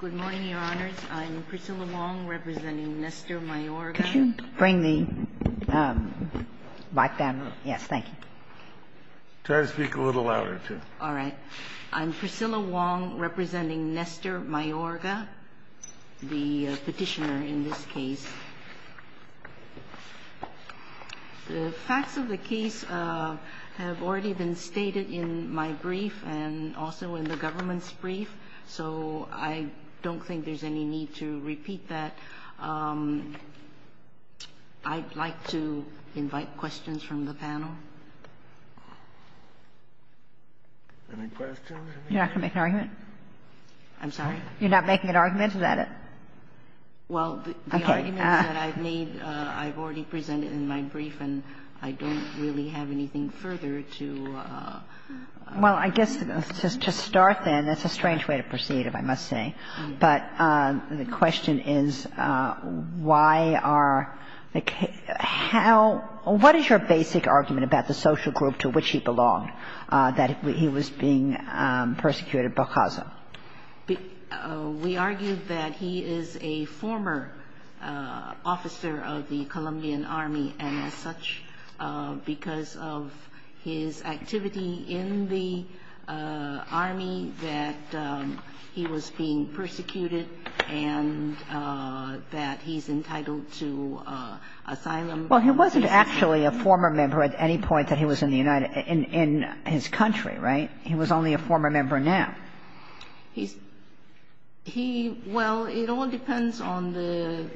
Good morning, Your Honors. I'm Priscilla Wong, representing Nestor Mayorga. Could you bring the mic down? Yes, thank you. Try to speak a little louder, too. All right. I'm Priscilla Wong, representing Nestor Mayorga, the petitioner in this case. The facts of the case have already been stated in my brief and also in the government's brief, so I don't think there's any need to repeat that. I'd like to invite questions from the panel. Any questions? You're not going to make an argument? I'm sorry? You're not making an argument? Well, the arguments that I've made I've already presented in my brief, and I don't really have anything further to add. Well, I guess to start then, that's a strange way to proceed, if I must say, but the question is why are the – how – what is your basic argument about the social group to which he belonged, that he was being persecuted by Gaza? We argue that he is a former officer of the Colombian army, and as such, because of his activity in the army, that he was being persecuted and that he's entitled to asylum. Well, he wasn't actually a former member at any point that he was in the United – in his country, right? He was only a former member now. He's – he – well, it all depends on the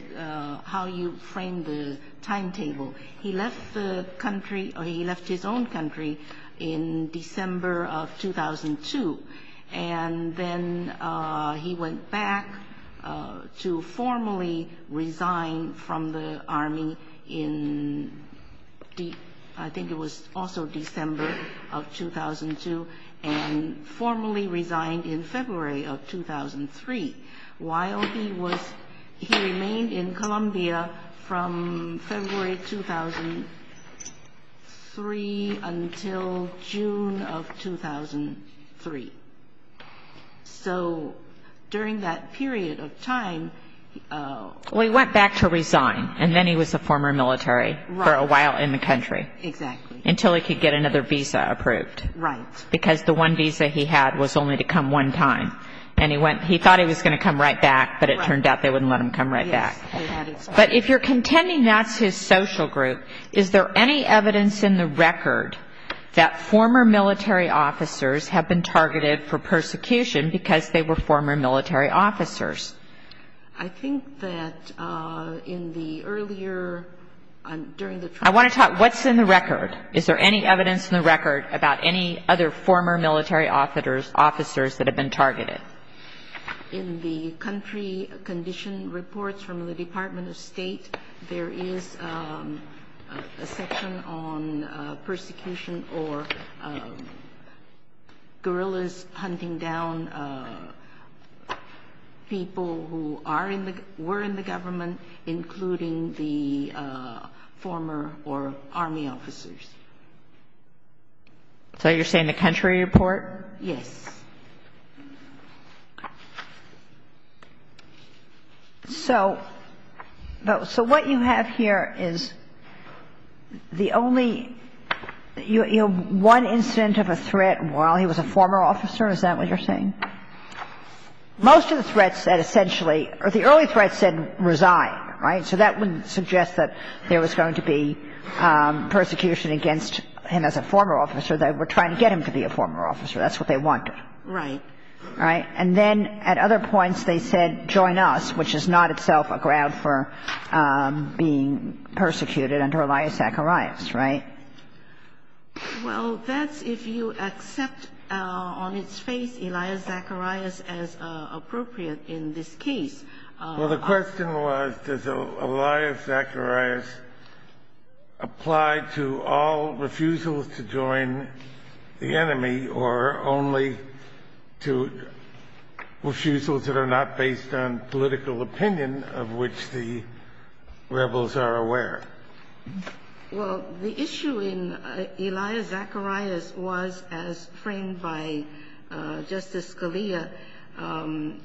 – how you frame the timetable. He left the country – or he left his own country in December of 2002, and then he went back to formally resign from the army in – I think it was also December of 2002, and formally resigned in February of 2003. While he was – he remained in Colombia from February 2003 until June of 2003. So during that period of time – Well, he went back to resign, and then he was a former military for a while in the country. Exactly. Until he could get another visa approved. Right. Because the one visa he had was only to come one time, and he went – he thought he was going to come right back, but it turned out they wouldn't let him come right back. Yes. But if you're contending that's his social group, is there any evidence in the record that former military officers have been targeted for persecution because they were former military officers? I think that in the earlier – during the trial – I want to talk – what's in the record? Is there any evidence in the record about any other former military officers that have been targeted? In the country condition reports from the Department of State, there is a section on persecution or guerrillas hunting down people who are in the – were in the government, including the former – or army officers. So you're saying the country report? Yes. So what you have here is the only – one incident of a threat while he was a former officer? Is that what you're saying? Most of the threats that essentially – or the early threats said resign, right? So that wouldn't suggest that there was going to be persecution against him as a former officer. They were trying to get him to be a former officer. That's what they wanted. Right. Right. And then at other points they said join us, which is not itself a ground for being persecuted under Elias Zacharias, right? Well, that's if you accept on its face Elias Zacharias as appropriate in this case. Well, the question was does Elias Zacharias apply to all refusals to join the enemy or only to refusals that are not based on political opinion of which the rebels are aware? Well, the issue in Elias Zacharias was, as framed by Justice Scalia,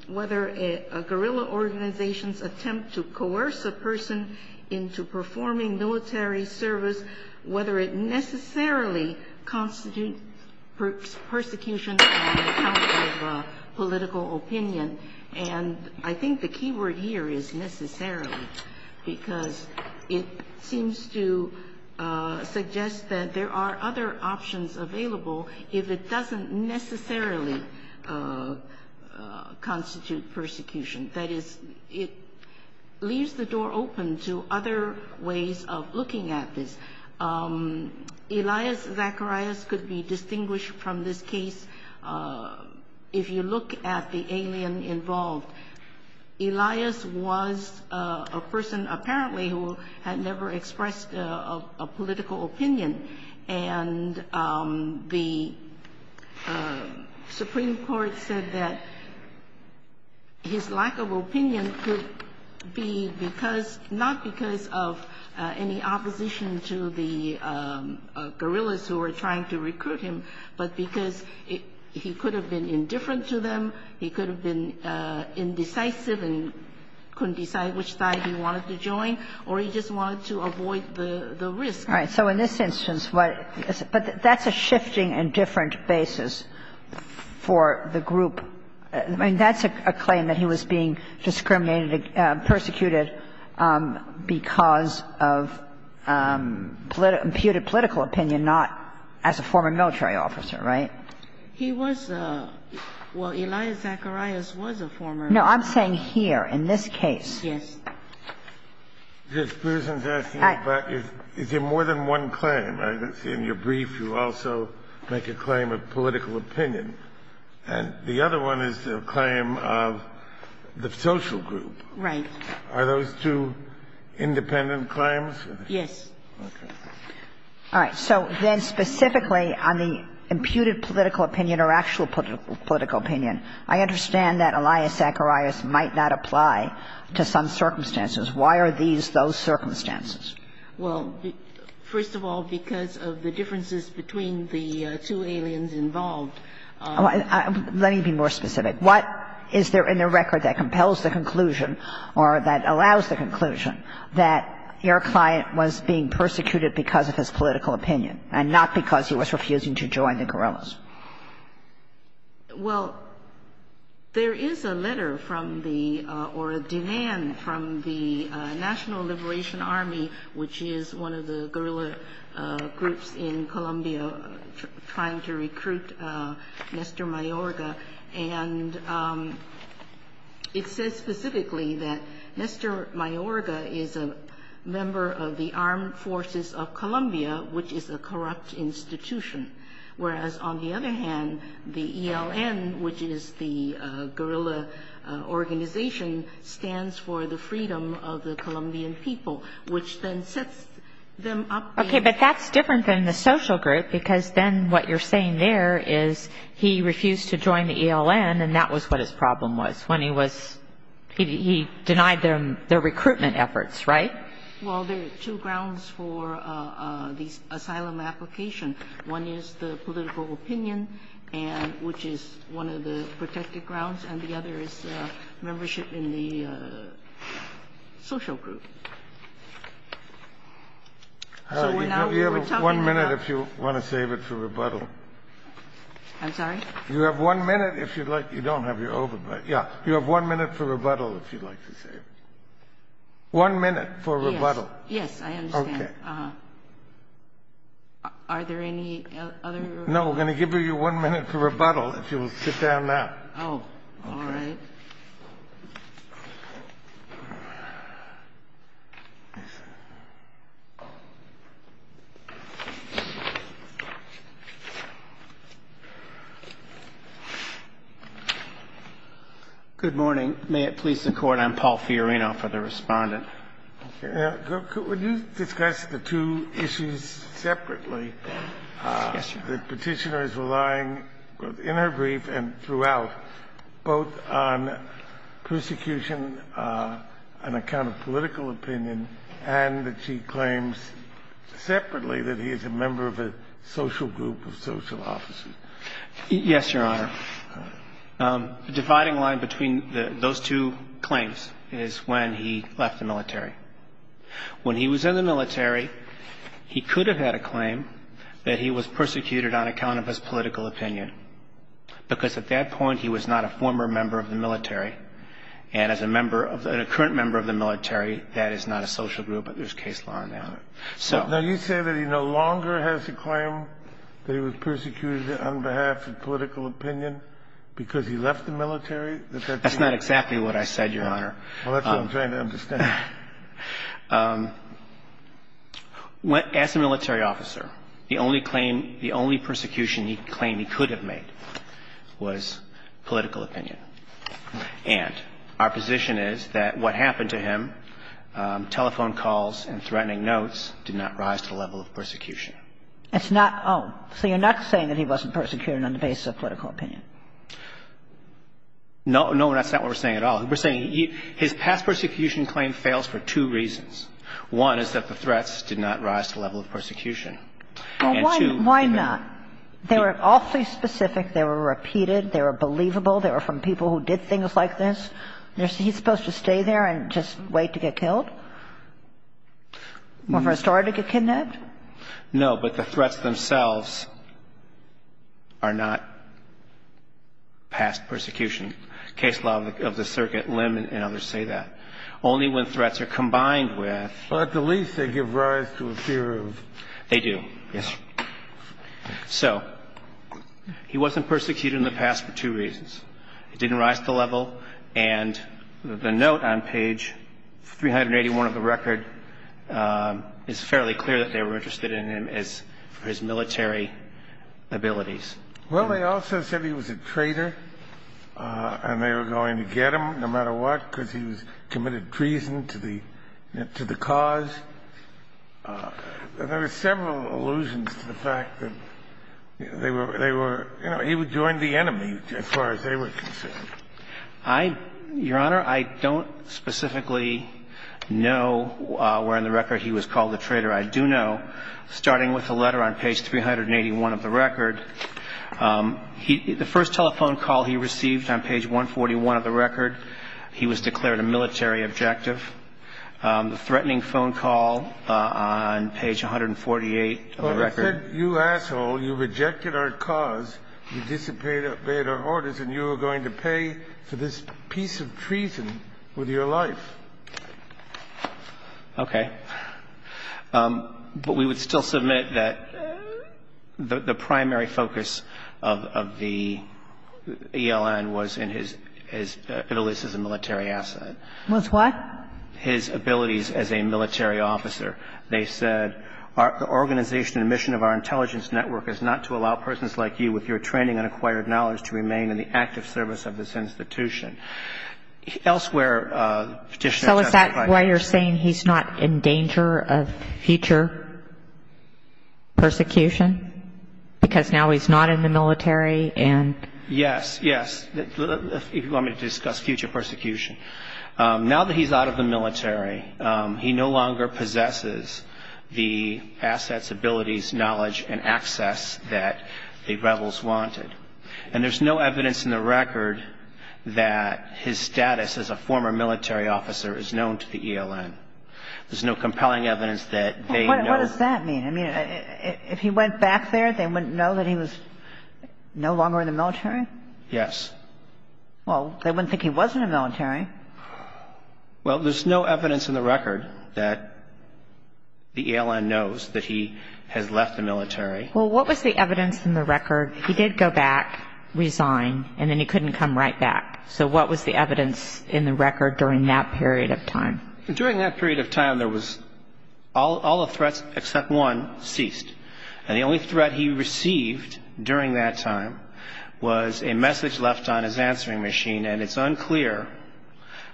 whether a guerrilla organization's attempt to coerce a person into performing military service, whether it necessarily constitutes persecution on account of political opinion. And I think the key word here is necessarily because it seems to suggest that there are other options available if it doesn't necessarily constitute persecution. That is, it leaves the door open to other ways of looking at this. Elias Zacharias could be distinguished from this case. If you look at the alien involved, Elias was a person apparently who had never expressed a political opinion. And the Supreme Court said that his lack of opinion could be not because of any opposition to the guerrillas who were trying to recruit him, but because he could have been indifferent to them, he could have been indecisive and couldn't decide which side he wanted to join, or he just wanted to avoid the risk. All right. So in this instance, but that's a shifting and different basis for the group. I mean, that's a claim that he was being discriminated, persecuted because of imputed political opinion, not as a former military officer, right? He was a – well, Elias Zacharias was a former military officer. No, I'm saying here, in this case. Yes. This person's asking about is there more than one claim. In your brief, you also make a claim of political opinion. And the other one is a claim of the social group. Right. Are those two independent claims? Yes. Okay. All right. So then specifically on the imputed political opinion or actual political opinion, I understand that Elias Zacharias might not apply to some circumstances. Why are these those circumstances? Well, first of all, because of the differences between the two aliens involved. Let me be more specific. What is there in the record that compels the conclusion or that allows the conclusion that your client was being persecuted because of his political opinion and not because he was refusing to join the guerrillas? Well, there is a letter from the – or a demand from the National Liberation Army, which is one of the guerrilla groups in Colombia trying to recruit Nestor Mayorga. And it says specifically that Nestor Mayorga is a member of the Armed Forces of Colombia, which is a corrupt institution. Whereas, on the other hand, the ELN, which is the guerrilla organization, stands for the freedom of the Colombian people, which then sets them up. Okay. But that's different than the social group because then what you're saying there is he refused to join the ELN, and that was what his problem was when he was – he denied their recruitment efforts. Right? Well, there are two grounds for the asylum application. One is the political opinion, and – which is one of the protected grounds, and the other is membership in the social group. So we're now – we're talking about – You have one minute if you want to save it for rebuttal. I'm sorry? You have one minute if you'd like – you don't have your over – yeah. You have one minute for rebuttal if you'd like to save it. One minute for rebuttal. Yes, I understand. Are there any other – No, we're going to give you one minute for rebuttal if you will sit down now. Oh, all right. Good morning. May it please the Court, I'm Paul Fiorino for the Respondent. Could you discuss the two issues separately? Yes, Your Honor. The Petitioner is relying both in her brief and throughout both on persecution, an account of political opinion, and that she claims separately that he is a member of a social group of social officers. Yes, Your Honor. The dividing line between those two claims is when he left the military. When he was in the military, he could have had a claim that he was persecuted on account of his political opinion because at that point he was not a former member of the military, and as a member of the – a current member of the military, that is not a social group, but there's case law in that. Now, you say that he no longer has a claim that he was persecuted on behalf of political opinion because he left the military? That's not exactly what I said, Your Honor. Well, that's what I'm trying to understand. As a military officer, the only claim – the only persecution he claimed he could have made was political opinion. And our position is that what happened to him, telephone calls and threatening notes, did not rise to the level of persecution. It's not – oh. So you're not saying that he wasn't persecuted on the basis of political opinion? No. No, that's not what we're saying at all. We're saying his past persecution claim fails for two reasons. One is that the threats did not rise to the level of persecution. And two – Well, why not? They were awfully specific. They were repeated. They were believable. They were from people who did things like this. He's supposed to stay there and just wait to get killed? Or for a story to get kidnapped? No, but the threats themselves are not past persecution. Case law of the circuit, Lim and others say that. Only when threats are combined with – Well, at the least, they give rise to a fear of – They do, yes. So he wasn't persecuted in the past for two reasons. It didn't rise to the level. And the note on page 381 of the record is fairly clear that they were interested in him for his military abilities. Well, they also said he was a traitor and they were going to get him no matter what because he was committed treason to the cause. There are several allusions to the fact that they were – he would join the enemy as far as they were concerned. Your Honor, I don't specifically know where in the record he was called a traitor. I do know, starting with the letter on page 381 of the record, the first telephone call he received on page 141 of the record, he was declared a military objective. The threatening phone call on page 148 of the record – Well, it said, you asshole, you rejected our cause, you disobeyed our orders, and you are going to pay for this piece of treason with your life. Okay. But we would still submit that the primary focus of the ELN was in his – at least as a military asset. Was what? His abilities as a military officer. They said the organization and mission of our intelligence network is not to allow persons like you with your training and acquired knowledge to remain in the active service of this institution. Elsewhere, Petitioner – So is that why you're saying he's not in danger of future persecution because now he's not in the military and – Yes, yes. If you want me to discuss future persecution. Now that he's out of the military, he no longer possesses the assets, abilities, knowledge, and access that the rebels wanted. And there's no evidence in the record that his status as a former military officer is known to the ELN. There's no compelling evidence that they know – Well, what does that mean? I mean, if he went back there, they wouldn't know that he was no longer in the military? Yes. Well, they wouldn't think he was in the military. Well, there's no evidence in the record that the ELN knows that he has left the military. Well, what was the evidence in the record? He did go back, resign, and then he couldn't come right back. So what was the evidence in the record during that period of time? During that period of time, there was – all the threats except one ceased. And the only threat he received during that time was a message left on his answering machine. And it's unclear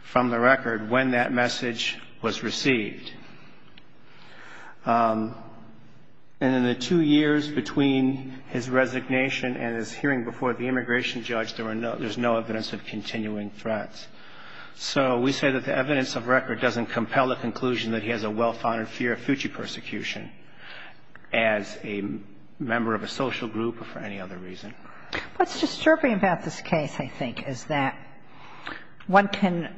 from the record when that message was received. And in the two years between his resignation and his hearing before the immigration judge, there's no evidence of continuing threats. So we say that the evidence of record doesn't compel the conclusion that he has a well-founded fear of future persecution. As a member of a social group or for any other reason. What's disturbing about this case, I think, is that one can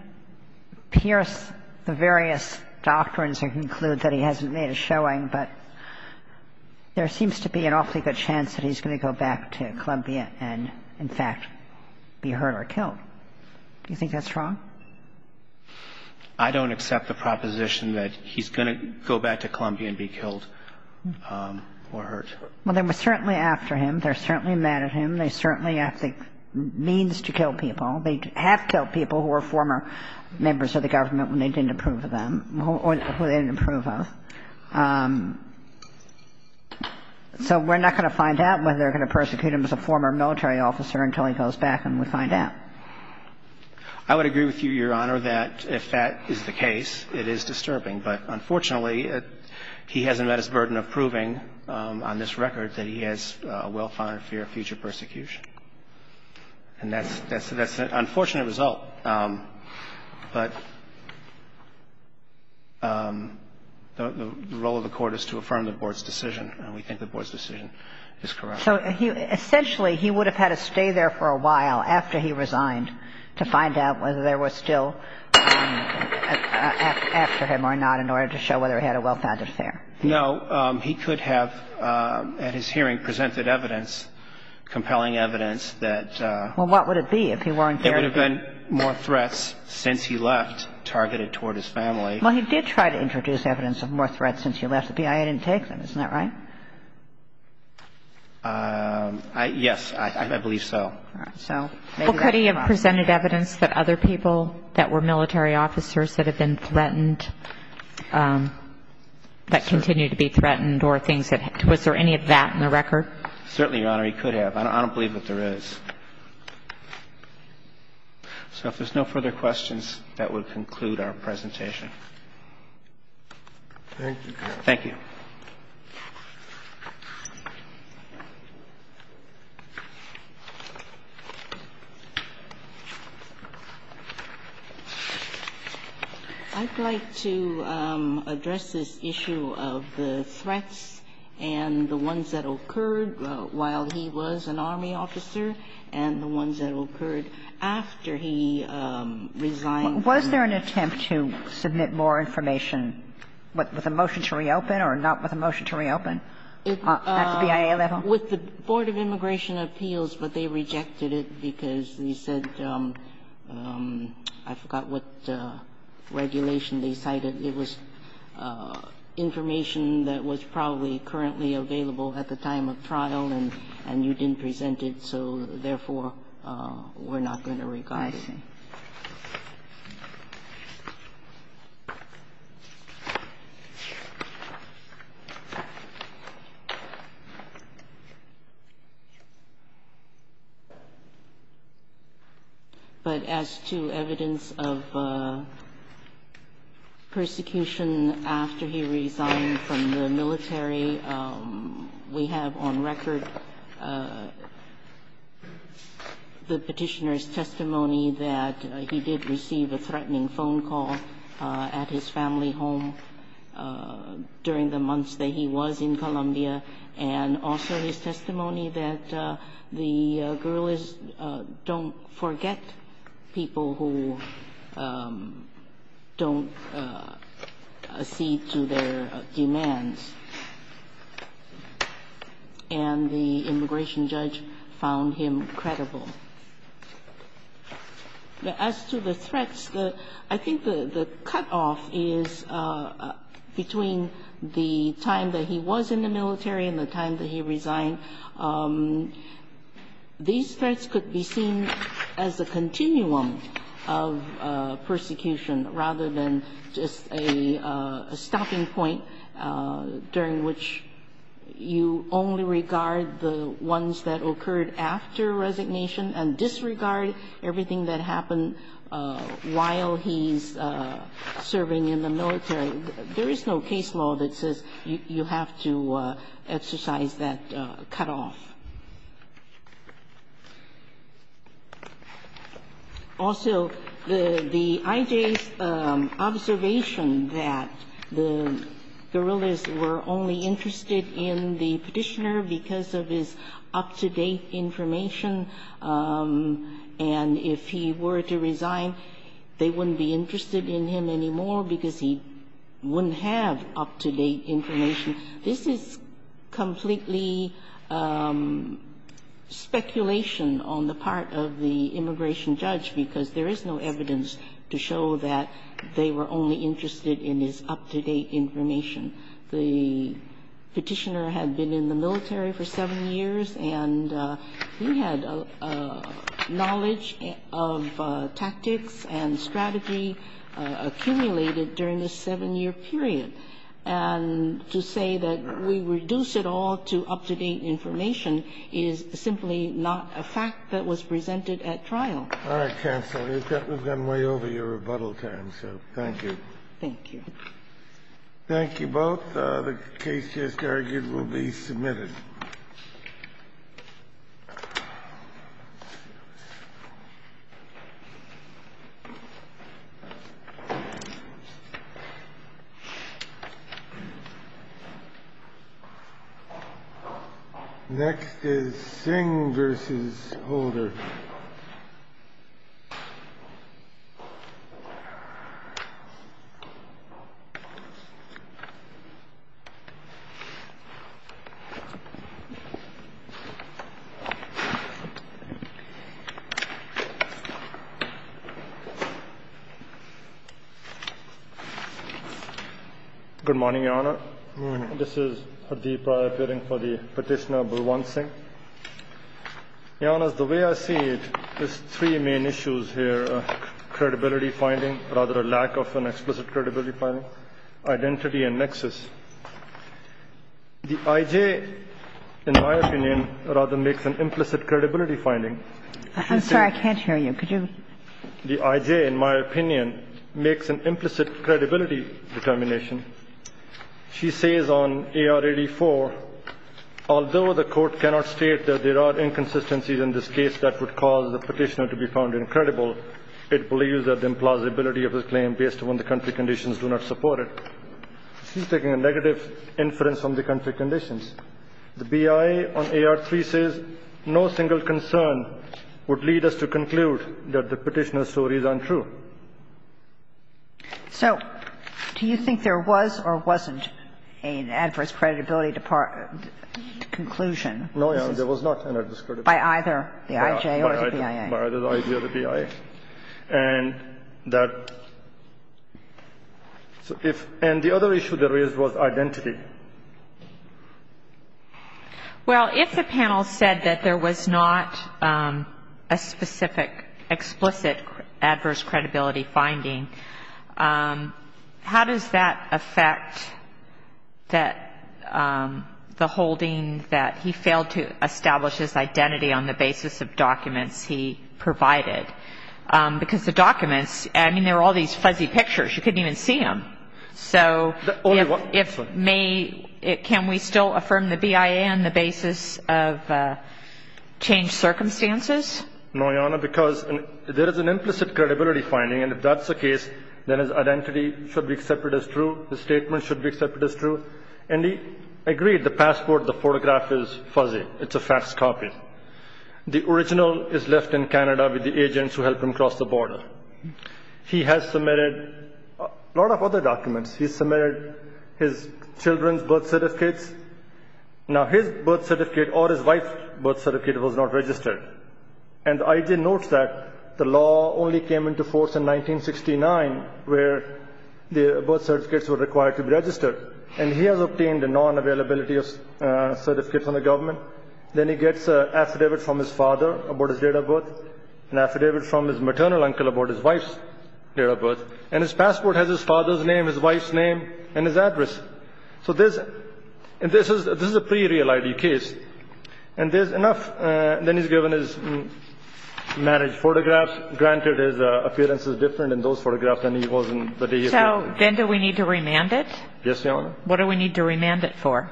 pierce the various doctrines and conclude that he hasn't made a showing, but there seems to be an awfully good chance that he's going to go back to Columbia and, in fact, be hurt or killed. Do you think that's wrong? I don't accept the proposition that he's going to go back to Columbia and be killed or hurt. Well, they were certainly after him. They're certainly mad at him. They certainly have the means to kill people. They have killed people who were former members of the government when they didn't approve of them or who they didn't approve of. So we're not going to find out whether they're going to persecute him as a former military officer until he goes back and we find out. I would agree with you, Your Honor, that if that is the case, it is disturbing. But unfortunately, he hasn't met his burden of proving on this record that he has a well-founded fear of future persecution. And that's an unfortunate result. But the role of the Court is to affirm the Board's decision, and we think the Board's decision is correct. So essentially, he would have had to stay there for a while after he resigned to find out whether there was still after him or not in order to show whether he had a well-founded fear. No. He could have, at his hearing, presented evidence, compelling evidence that – Well, what would it be if he weren't there? There would have been more threats since he left targeted toward his family. Well, he did try to introduce evidence of more threats since he left. The BIA didn't take them. Isn't that right? Yes. I believe so. All right. So maybe that's why. Well, could he have presented evidence that other people that were military officers that had been threatened, that continue to be threatened or things that – was there any of that in the record? Certainly, Your Honor, he could have. I don't believe that there is. So if there's no further questions, that would conclude our presentation. Thank you, Your Honor. Thank you. I'd like to address this issue of the threats and the ones that occurred while he was an Army officer and the ones that occurred after he resigned. Was there an attempt to submit more information with a motion to reopen or not with a motion to reopen? That's the BIA level? With the Board of Immigration Appeals, but they rejected it because they said – I forgot what regulation they cited. It was information that was probably currently available at the time of trial, and you didn't present it. So therefore, we're not going to regard it. I see. But as to evidence of persecution after he resigned from the military, we have on record the Petitioner's testimony that there was no evidence of persecution after he resigned and that he did receive a threatening phone call at his family home during the months that he was in Colombia, and also his testimony that the guerrillas don't forget people who don't accede to their demands, and the immigration judge found him credible. As to the threats, I think the cutoff is between the time that he was in the military and the time that he resigned. These threats could be seen as a continuum of persecution rather than just a stopping point during which you only regard the ones that occurred after resignation and disregard everything that happened while he's serving in the military. There is no case law that says you have to exercise that cutoff. Also, the IJ's observation that the guerrillas were only interested in the Petitioner because of his up-to-date information, and if he were to resign, they wouldn't be interested in him anymore because he wouldn't have up-to-date information, this is completely speculation on the part of the immigration judge because there is no evidence to show that they were only interested in his up-to-date information. The Petitioner had been in the military for seven years, and he had knowledge of tactics and strategy accumulated during this seven-year period. And to say that we reduce it all to up-to-date information is simply not a fact that was presented at trial. All right, counsel. We've gotten way over your rebuttal time, so thank you. Thank you. The case just argued will be submitted. Next is Singh v. Holder. Good morning, Your Honor. Good morning. This is Hardeep Rai appearing for the Petitioner, Bulwant Singh. Your Honors, the way I see it, there's three main issues here, credibility finding, rather a lack of an explicit credibility finding, identity, and nexus. The I.J., in my opinion, rather makes an implicit credibility finding. I'm sorry, I can't hear you. Could you? The I.J., in my opinion, makes an implicit credibility determination. She says on AR 84, although the Court cannot state that there are inconsistencies in this case that would cause the Petitioner to be found incredible, it believes that the implausibility of his claim based upon the country conditions do not support it. She's taking a negative inference on the country conditions. The BIA on AR 3 says no single concern would lead us to conclude that the Petitioner's story is untrue. So do you think there was or wasn't an adverse credibility conclusion? No, Your Honor, there was not an adverse credibility conclusion. By either the I.J. or the BIA? By either the I.J. or the BIA. And the other issue there is was identity. Well, if the panel said that there was not a specific explicit adverse credibility finding, how does that affect the holding that he failed to establish his identity on the basis of documents he provided? Because the documents, I mean, there were all these fuzzy pictures. You couldn't even see them. So if may, can we still affirm the BIA on the basis of changed circumstances? No, Your Honor, because there is an implicit credibility finding, and if that's the case, then his identity should be accepted as true, his statement should be accepted as true. And he agreed the passport, the photograph is fuzzy. It's a fax copy. The original is left in Canada with the agents who helped him cross the border. He has submitted a lot of other documents. He submitted his children's birth certificates. Now, his birth certificate or his wife's birth certificate was not registered. And I.J. notes that the law only came into force in 1969 where the birth certificates were required to be registered. And he has obtained a non-availability certificate from the government. Then he gets an affidavit from his father about his date of birth, an affidavit from his maternal uncle about his wife's date of birth. And his passport has his father's name, his wife's name, and his address. So this is a pre-reality case. And there's enough. Then he's given his marriage photographs. Granted, his appearance is different in those photographs than he was in the day he was married. So then do we need to remand it? Yes, Your Honor. What do we need to remand it for?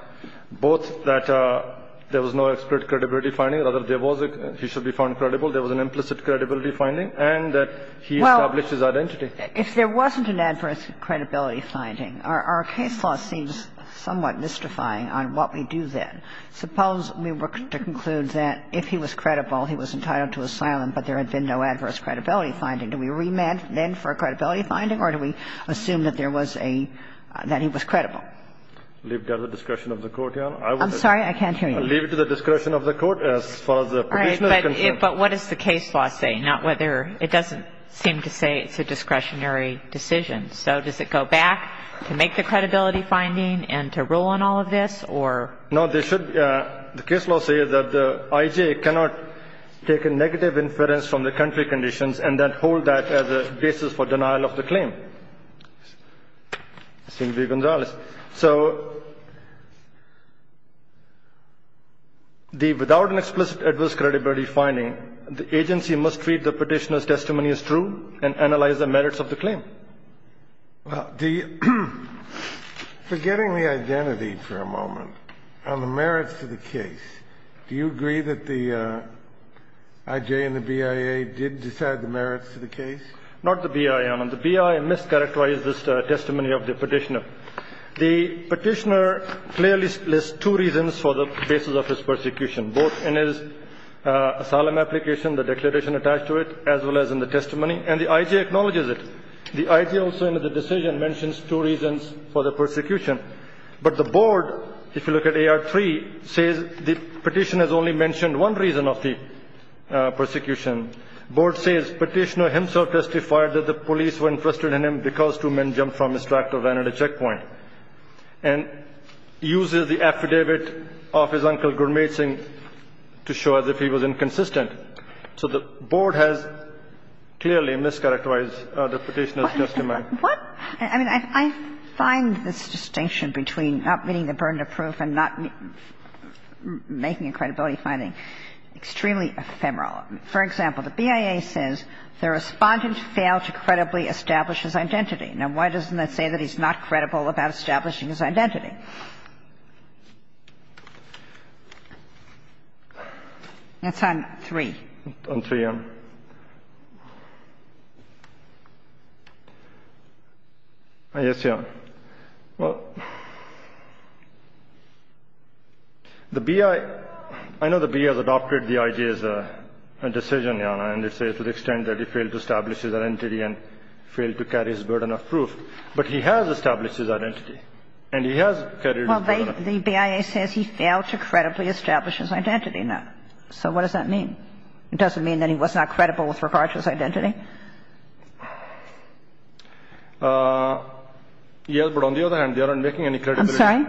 Both that there was no expert credibility finding. Rather, there was a, he should be found credible. There was an implicit credibility finding. And that he established his identity. Well, if there wasn't an adverse credibility finding, our case law seems somewhat mystifying on what we do then. Suppose we were to conclude that if he was credible, he was entitled to asylum, but there had been no adverse credibility finding. Do we remand then for a credibility finding, or do we assume that there was a, that he was credible? Leave it to the discretion of the Court, Your Honor. I'm sorry, I can't hear you. Leave it to the discretion of the Court as far as the petitioner is concerned. All right. But what does the case law say? Not whether, it doesn't seem to say it's a discretionary decision. So does it go back to make the credibility finding and to rule on all of this, or? No, there should, the case law says that the IJ cannot take a negative inference from the country conditions and then hold that as a basis for denial of the claim. It seems to be Gonzalez. So the, without an explicit adverse credibility finding, the agency must treat the petitioner's testimony as true and analyze the merits of the claim. Well, the, forgetting the identity for a moment, on the merits of the case, do you agree that the IJ and the BIA did decide the merits of the case? Not the BIA, Your Honor. The BIA mischaracterized this testimony of the petitioner. The petitioner clearly lists two reasons for the basis of his persecution, both in his asylum application, the declaration attached to it, as well as in the testimony, and the IJ acknowledges it. The IJ also in the decision mentions two reasons for the persecution. But the board, if you look at AR3, says the petitioner has only mentioned one reason of the persecution. Board says petitioner himself testified that the police were interested in him because two men jumped from his tractor and ran at a checkpoint, and uses the affidavit of his uncle Gurmeet Singh to show as if he was inconsistent. So the board has clearly mischaracterized the petitioner's testimony. What? I mean, I find this distinction between not meeting the burden of proof and not making a credibility finding extremely ephemeral. For example, the BIA says the Respondent failed to credibly establish his identity. Now, why doesn't that say that he's not credible about establishing his identity? That's on 3. On 3, Your Honor. Yes, Your Honor. Well, the BIA – I know the BIA has adopted the IJ as a decision, Your Honor, and they say to the extent that he failed to establish his identity and failed to carry his burden of proof. But he has established his identity, and he has carried his burden of proof. Well, the BIA says he failed to credibly establish his identity. Now, so what does that mean? It doesn't mean that he was not credible with regard to his identity? Yes, but on the other hand, they aren't making any credibility. I'm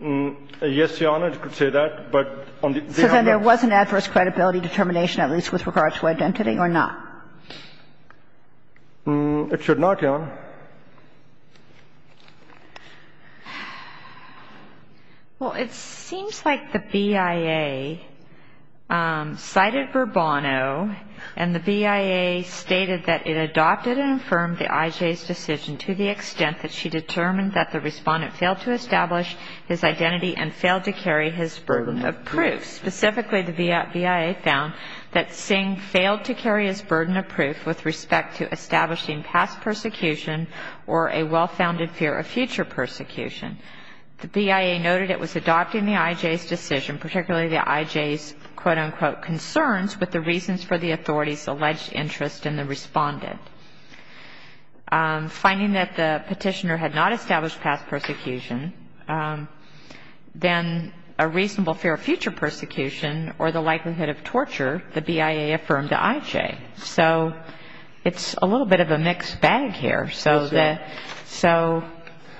sorry? Yes, Your Honor, it could say that, but on the other hand, that's – So then there was an adverse credibility determination, at least with regard to identity, or not? It should not, Your Honor. Well, it seems like the BIA cited Bourbono, and the BIA stated that it adopted and affirmed the IJ's decision to the extent that she determined that the respondent failed to establish his identity and failed to carry his burden of proof. Specifically, the BIA found that Singh failed to carry his burden of proof with respect to establishing past persecution or a well-founded fear of future persecution. The BIA noted it was adopting the IJ's decision, particularly the IJ's quote, unquote, concerns with the reasons for the authority's alleged interest in the respondent. Finding that the petitioner had not established past persecution, then a reasonable fear of future persecution or the likelihood of torture, the BIA affirmed to IJ. So it's a little bit of a mixed bag here. Yes, Your Honor. So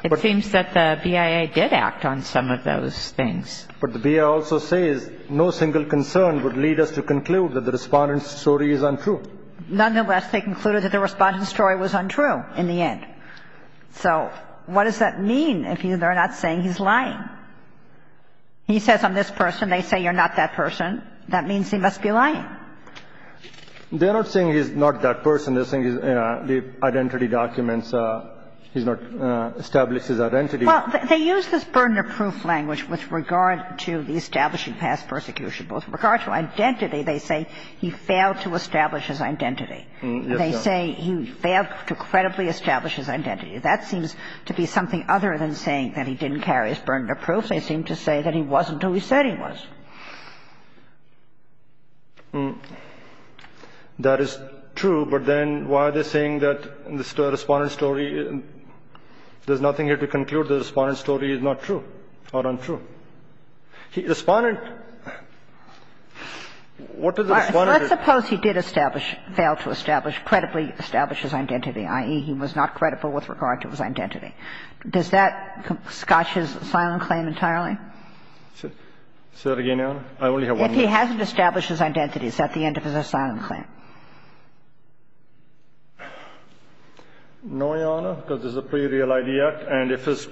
it seems that the BIA did act on some of those things. But the BIA also says no single concern would lead us to conclude that the respondent's story is untrue. Nonetheless, they concluded that the respondent's story was untrue in the end. So what does that mean if they're not saying he's lying? He says I'm this person. They say you're not that person. That means he must be lying. They're not saying he's not that person. They're saying the identity documents, he's not established his identity. Well, they use this burden of proof language with regard to the establishing past persecution. But with regard to identity, they say he failed to establish his identity. Yes, Your Honor. They say he failed to credibly establish his identity. That seems to be something other than saying that he didn't carry his burden of proof. They seem to say that he wasn't who he said he was. That is true, but then why are they saying that the respondent's story, there's nothing here to conclude the respondent's story is not true or untrue? Respondent, what does the respondent? Let's suppose he did establish, fail to establish, credibly establish his identity, i.e., he was not credible with regard to his identity. Does that scotch his silent claim entirely? Say that again, Your Honor. I only have one more. If he hasn't established his identity, is that the end of his silent claim? No, Your Honor, because this is a pretty real ID act, and if his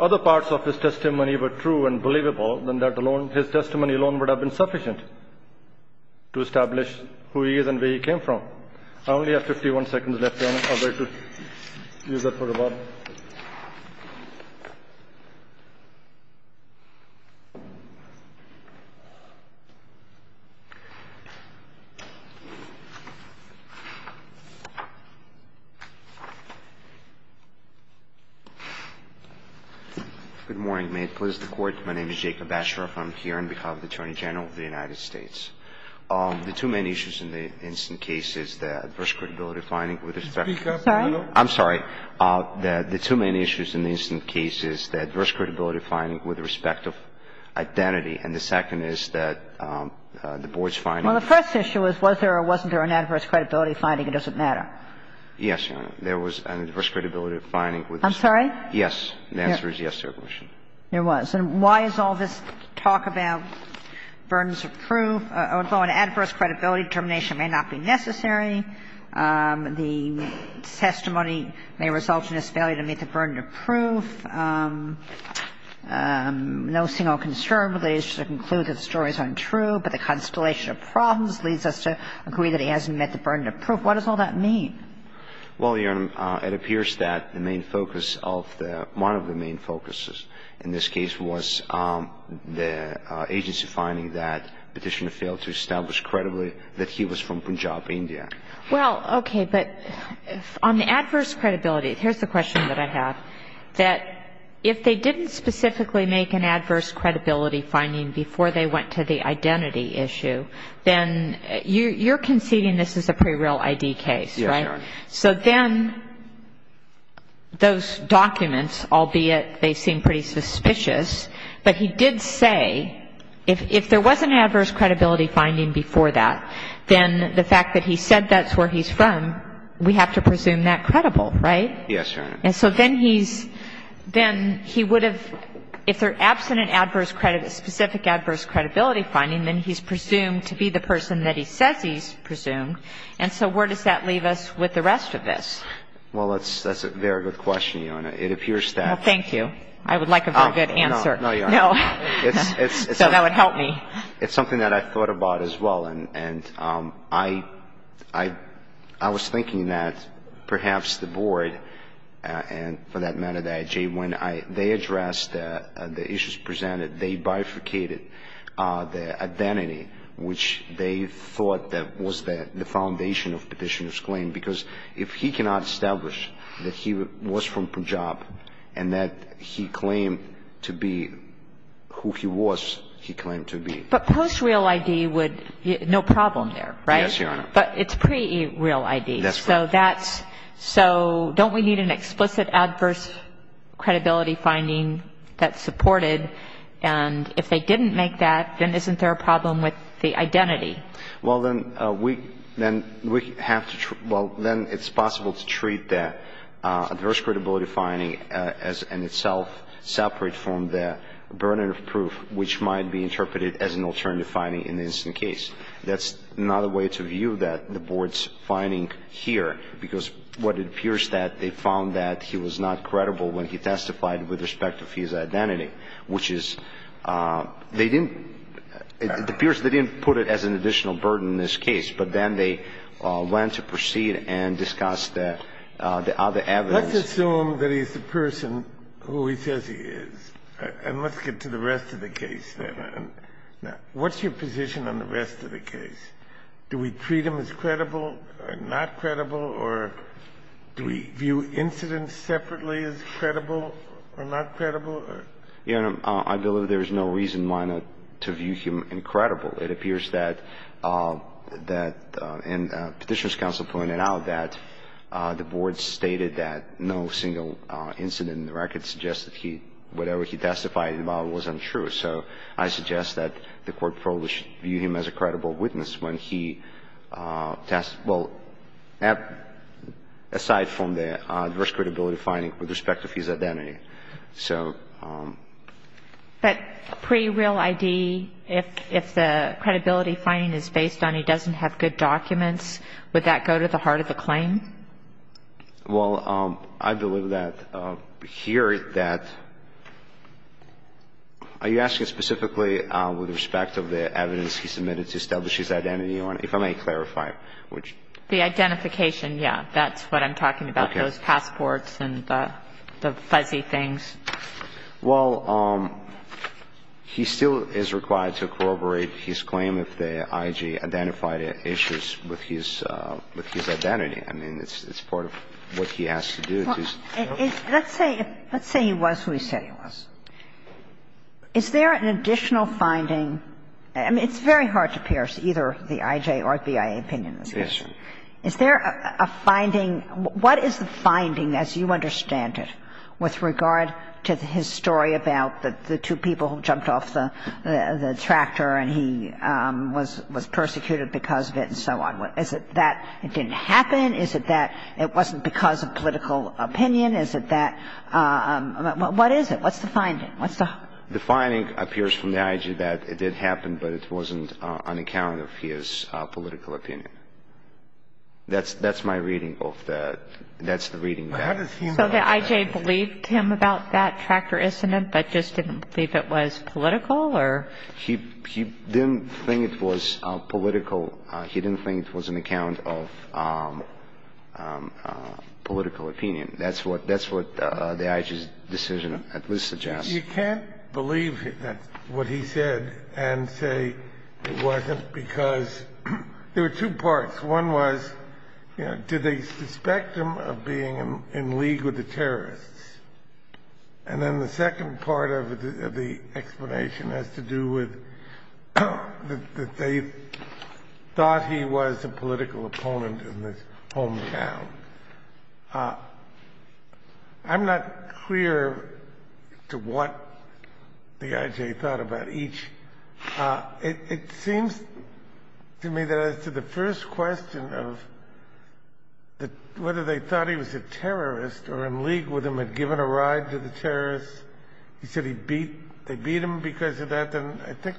other parts of his testimony were true and believable, then that alone, his testimony alone would have been sufficient to establish who he is and where he came from. I only have 51 seconds left, Your Honor. I'd like to use that for rebuttal. Good morning. May it please the Court. My name is Jacob Basharoff. I'm here on behalf of the Attorney General of the United States. The two main issues in the incident case is the adverse credibility finding with respect to identity. I'm sorry. The two main issues in the incident case is the adverse credibility finding with respect to identity, and the second is that the board's finding. Well, the first issue is was there or wasn't there an adverse credibility finding. It doesn't matter. Yes, Your Honor. There was an adverse credibility finding. I'm sorry? Yes. The answer is yes to your question. There was. And why is all this talk about burdens of proof? Although an adverse credibility determination may not be necessary, the testimony may result in his failure to meet the burden of proof. No single concern relates to the conclusion that the story is untrue, but the constellation of problems leads us to agree that he hasn't met the burden of proof. What does all that mean? Well, Your Honor, it appears that the main focus of the one of the main focuses in this case was the agency finding that petitioner failed to establish credibly that he was from Punjab, India. Well, okay. But on the adverse credibility, here's the question that I have, that if they didn't specifically make an adverse credibility finding before they went to the identity issue, then you're conceding this is a pre-real ID case, right? Yes, Your Honor. So then those documents, albeit they seem pretty suspicious, but he did say if there was an adverse credibility finding before that, then the fact that he said that's where he's from, we have to presume that credible, right? Yes, Your Honor. And so then he's been, he would have, if they're absent an adverse, specific adverse credibility finding, then he's presumed to be the person that he says he's Well, that's a very good question, Your Honor. It appears that Well, thank you. I would like a very good answer. No, Your Honor. No. So that would help me. It's something that I thought about as well. And I was thinking that perhaps the board, and for that matter, that when they addressed the issues presented, they bifurcated the identity, which they thought that was the foundation of Petitioner's claim, because if he cannot establish that he was from Punjab and that he claimed to be who he was, he claimed to be But post-real ID would, no problem there, right? Yes, Your Honor. But it's pre-real ID. That's right. So that's, so don't we need an explicit adverse credibility finding that's supported? And if they didn't make that, then isn't there a problem with the identity? Well, then we have to, well, then it's possible to treat that adverse credibility finding as in itself separate from the burden of proof, which might be interpreted as an alternative finding in the incident case. That's not a way to view that, the board's finding here, because what it appears that they found that he was not credible when he testified with respect to his identity, which is they didn't, it appears they didn't put it as an additional burden in this case, but then they went to proceed and discuss the other evidence. Let's assume that he's the person who he says he is, and let's get to the rest of the case then. Now, what's your position on the rest of the case? Do we treat him as credible or not credible, or do we view incidents separately as credible or not credible? Your Honor, I believe there's no reason why not to view him incredible. It appears that that, and Petitioner's Counsel pointed out that the board stated that no single incident in the record suggested he, whatever he testified about was untrue. So I suggest that the Court probably should view him as a credible witness when he testifies, well, aside from the adverse credibility finding with respect to his identity. So... But pre-real ID, if the credibility finding is based on he doesn't have good documents, would that go to the heart of the claim? Well, I believe that here that, are you asking specifically with respect to the evidence he submitted to establish his identity, Your Honor, if I may clarify? The identification, yes. That's what I'm talking about. Okay. Those passports and the fuzzy things. Well, he still is required to corroborate his claim if the IG identified issues with his identity. I mean, it's part of what he has to do. Let's say he was who he said he was. Is there an additional finding? I mean, it's very hard to pierce either the IJ or BIA opinion. Yes. Is there a finding? What is the finding, as you understand it, with regard to his story about the two people who jumped off the tractor and he was persecuted because of it and so on? Is it that it didn't happen? Is it that it wasn't because of political opinion? Is it that what is it? What's the finding? The finding appears from the IJ that it did happen, but it wasn't on account of his political opinion. That's my reading of that. That's the reading of that. So the IJ believed him about that tractor incident but just didn't believe it was political or? He didn't think it was political. He didn't think it was on account of political opinion. That's what the IJ's decision at least suggests. You can't believe what he said and say it wasn't because there were two parts. One was, you know, did they suspect him of being in league with the terrorists? And then the second part of the explanation has to do with that they thought he was a political opponent in his hometown. I'm not clear to what the IJ thought about each. It seems to me that as to the first question of whether they thought he was a terrorist or in league with him had given a ride to the terrorists. He said they beat him because of that. I think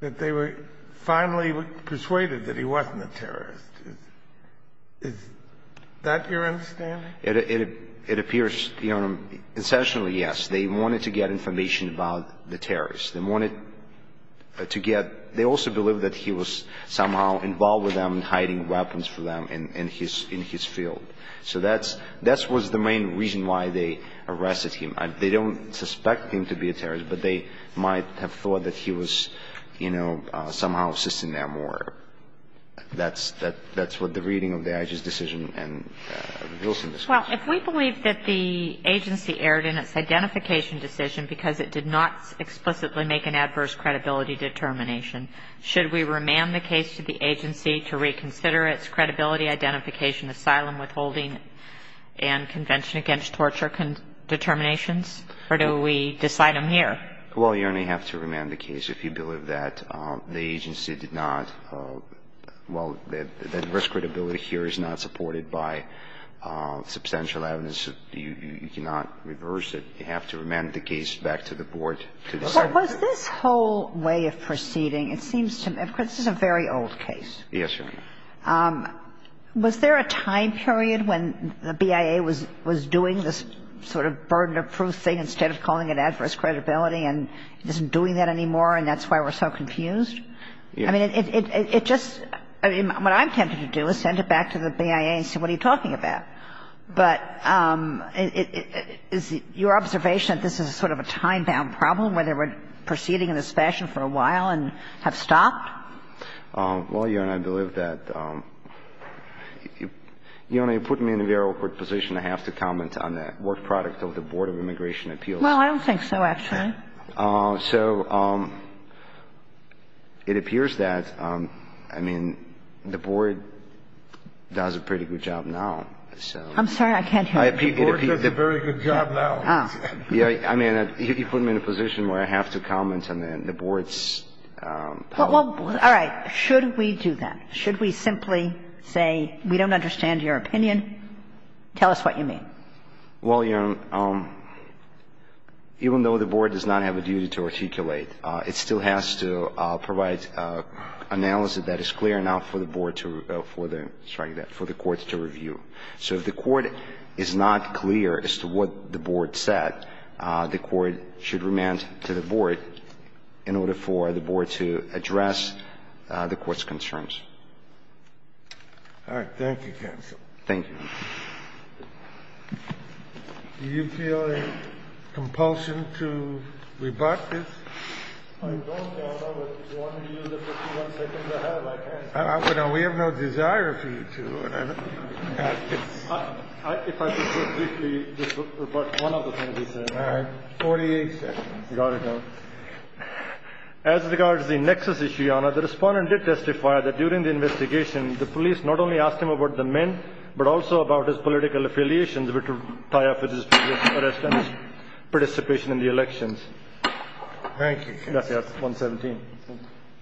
that they were finally persuaded that he wasn't a terrorist. Is that your understanding? It appears, you know, essentially, yes. They wanted to get information about the terrorists. They wanted to get they also believed that he was somehow involved with them and hiding weapons from them in his field. So that was the main reason why they arrested him. They don't suspect him to be a terrorist, but they might have thought that he was, you know, somehow assisting them. So, I think that's what the IJ's decision and Wilson's decision are. Well, if we believe that the agency erred in its identification decision because it did not explicitly make an adverse credibility determination, should we remand the case to the agency to reconsider its credibility identification, asylum withholding and convention against torture determinations? Or do we decide them here? Well, you only have to remand the case if you believe that the agency did not, well, that risk credibility here is not supported by substantial evidence. You cannot reverse it. You have to remand the case back to the board. Was this whole way of proceeding, it seems to me, this is a very old case. Yes, Your Honor. Was there a time period when the BIA was doing this sort of burden of proof thing instead of calling it adverse credibility and isn't doing that anymore and that's why we're so confused? I mean, it just – I mean, what I'm tempted to do is send it back to the BIA and say what are you talking about. But is your observation that this is sort of a time-bound problem, whether we're proceeding in this fashion for a while and have stopped? Well, Your Honor, I believe that – Your Honor, you're putting me in a very awkward position. I have to comment on the work product of the Board of Immigration Appeals. Well, I don't think so, actually. So it appears that, I mean, the board does a pretty good job now. I'm sorry. I can't hear you. The board does a very good job now. I mean, you put me in a position where I have to comment on the board's policy. All right. Should we do that? Should we simply say we don't understand your opinion? Tell us what you mean. Well, Your Honor, even though the board does not have a duty to articulate, it still has to provide analysis that is clear enough for the board to – sorry, for the courts to review. So if the court is not clear as to what the board said, the court should remand to the board in order for the board to address the court's concerns. All right. Thank you, counsel. Thank you, Your Honor. Do you feel a compulsion to rebut this? I don't, Your Honor. But if you want me to use the 51 seconds I have, I can. We have no desire for you to. If I could just briefly rebut one of the things he said. All right. 48 seconds. Got it, Your Honor. As regards the nexus issue, Your Honor, the respondent did testify that during the investigation, the police not only asked him about the men but also about his political affiliations which tie up with his previous arrest and his participation in the elections. Thank you, counsel. That's 117.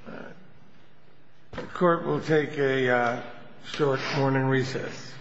All right. The court will take a short morning recess.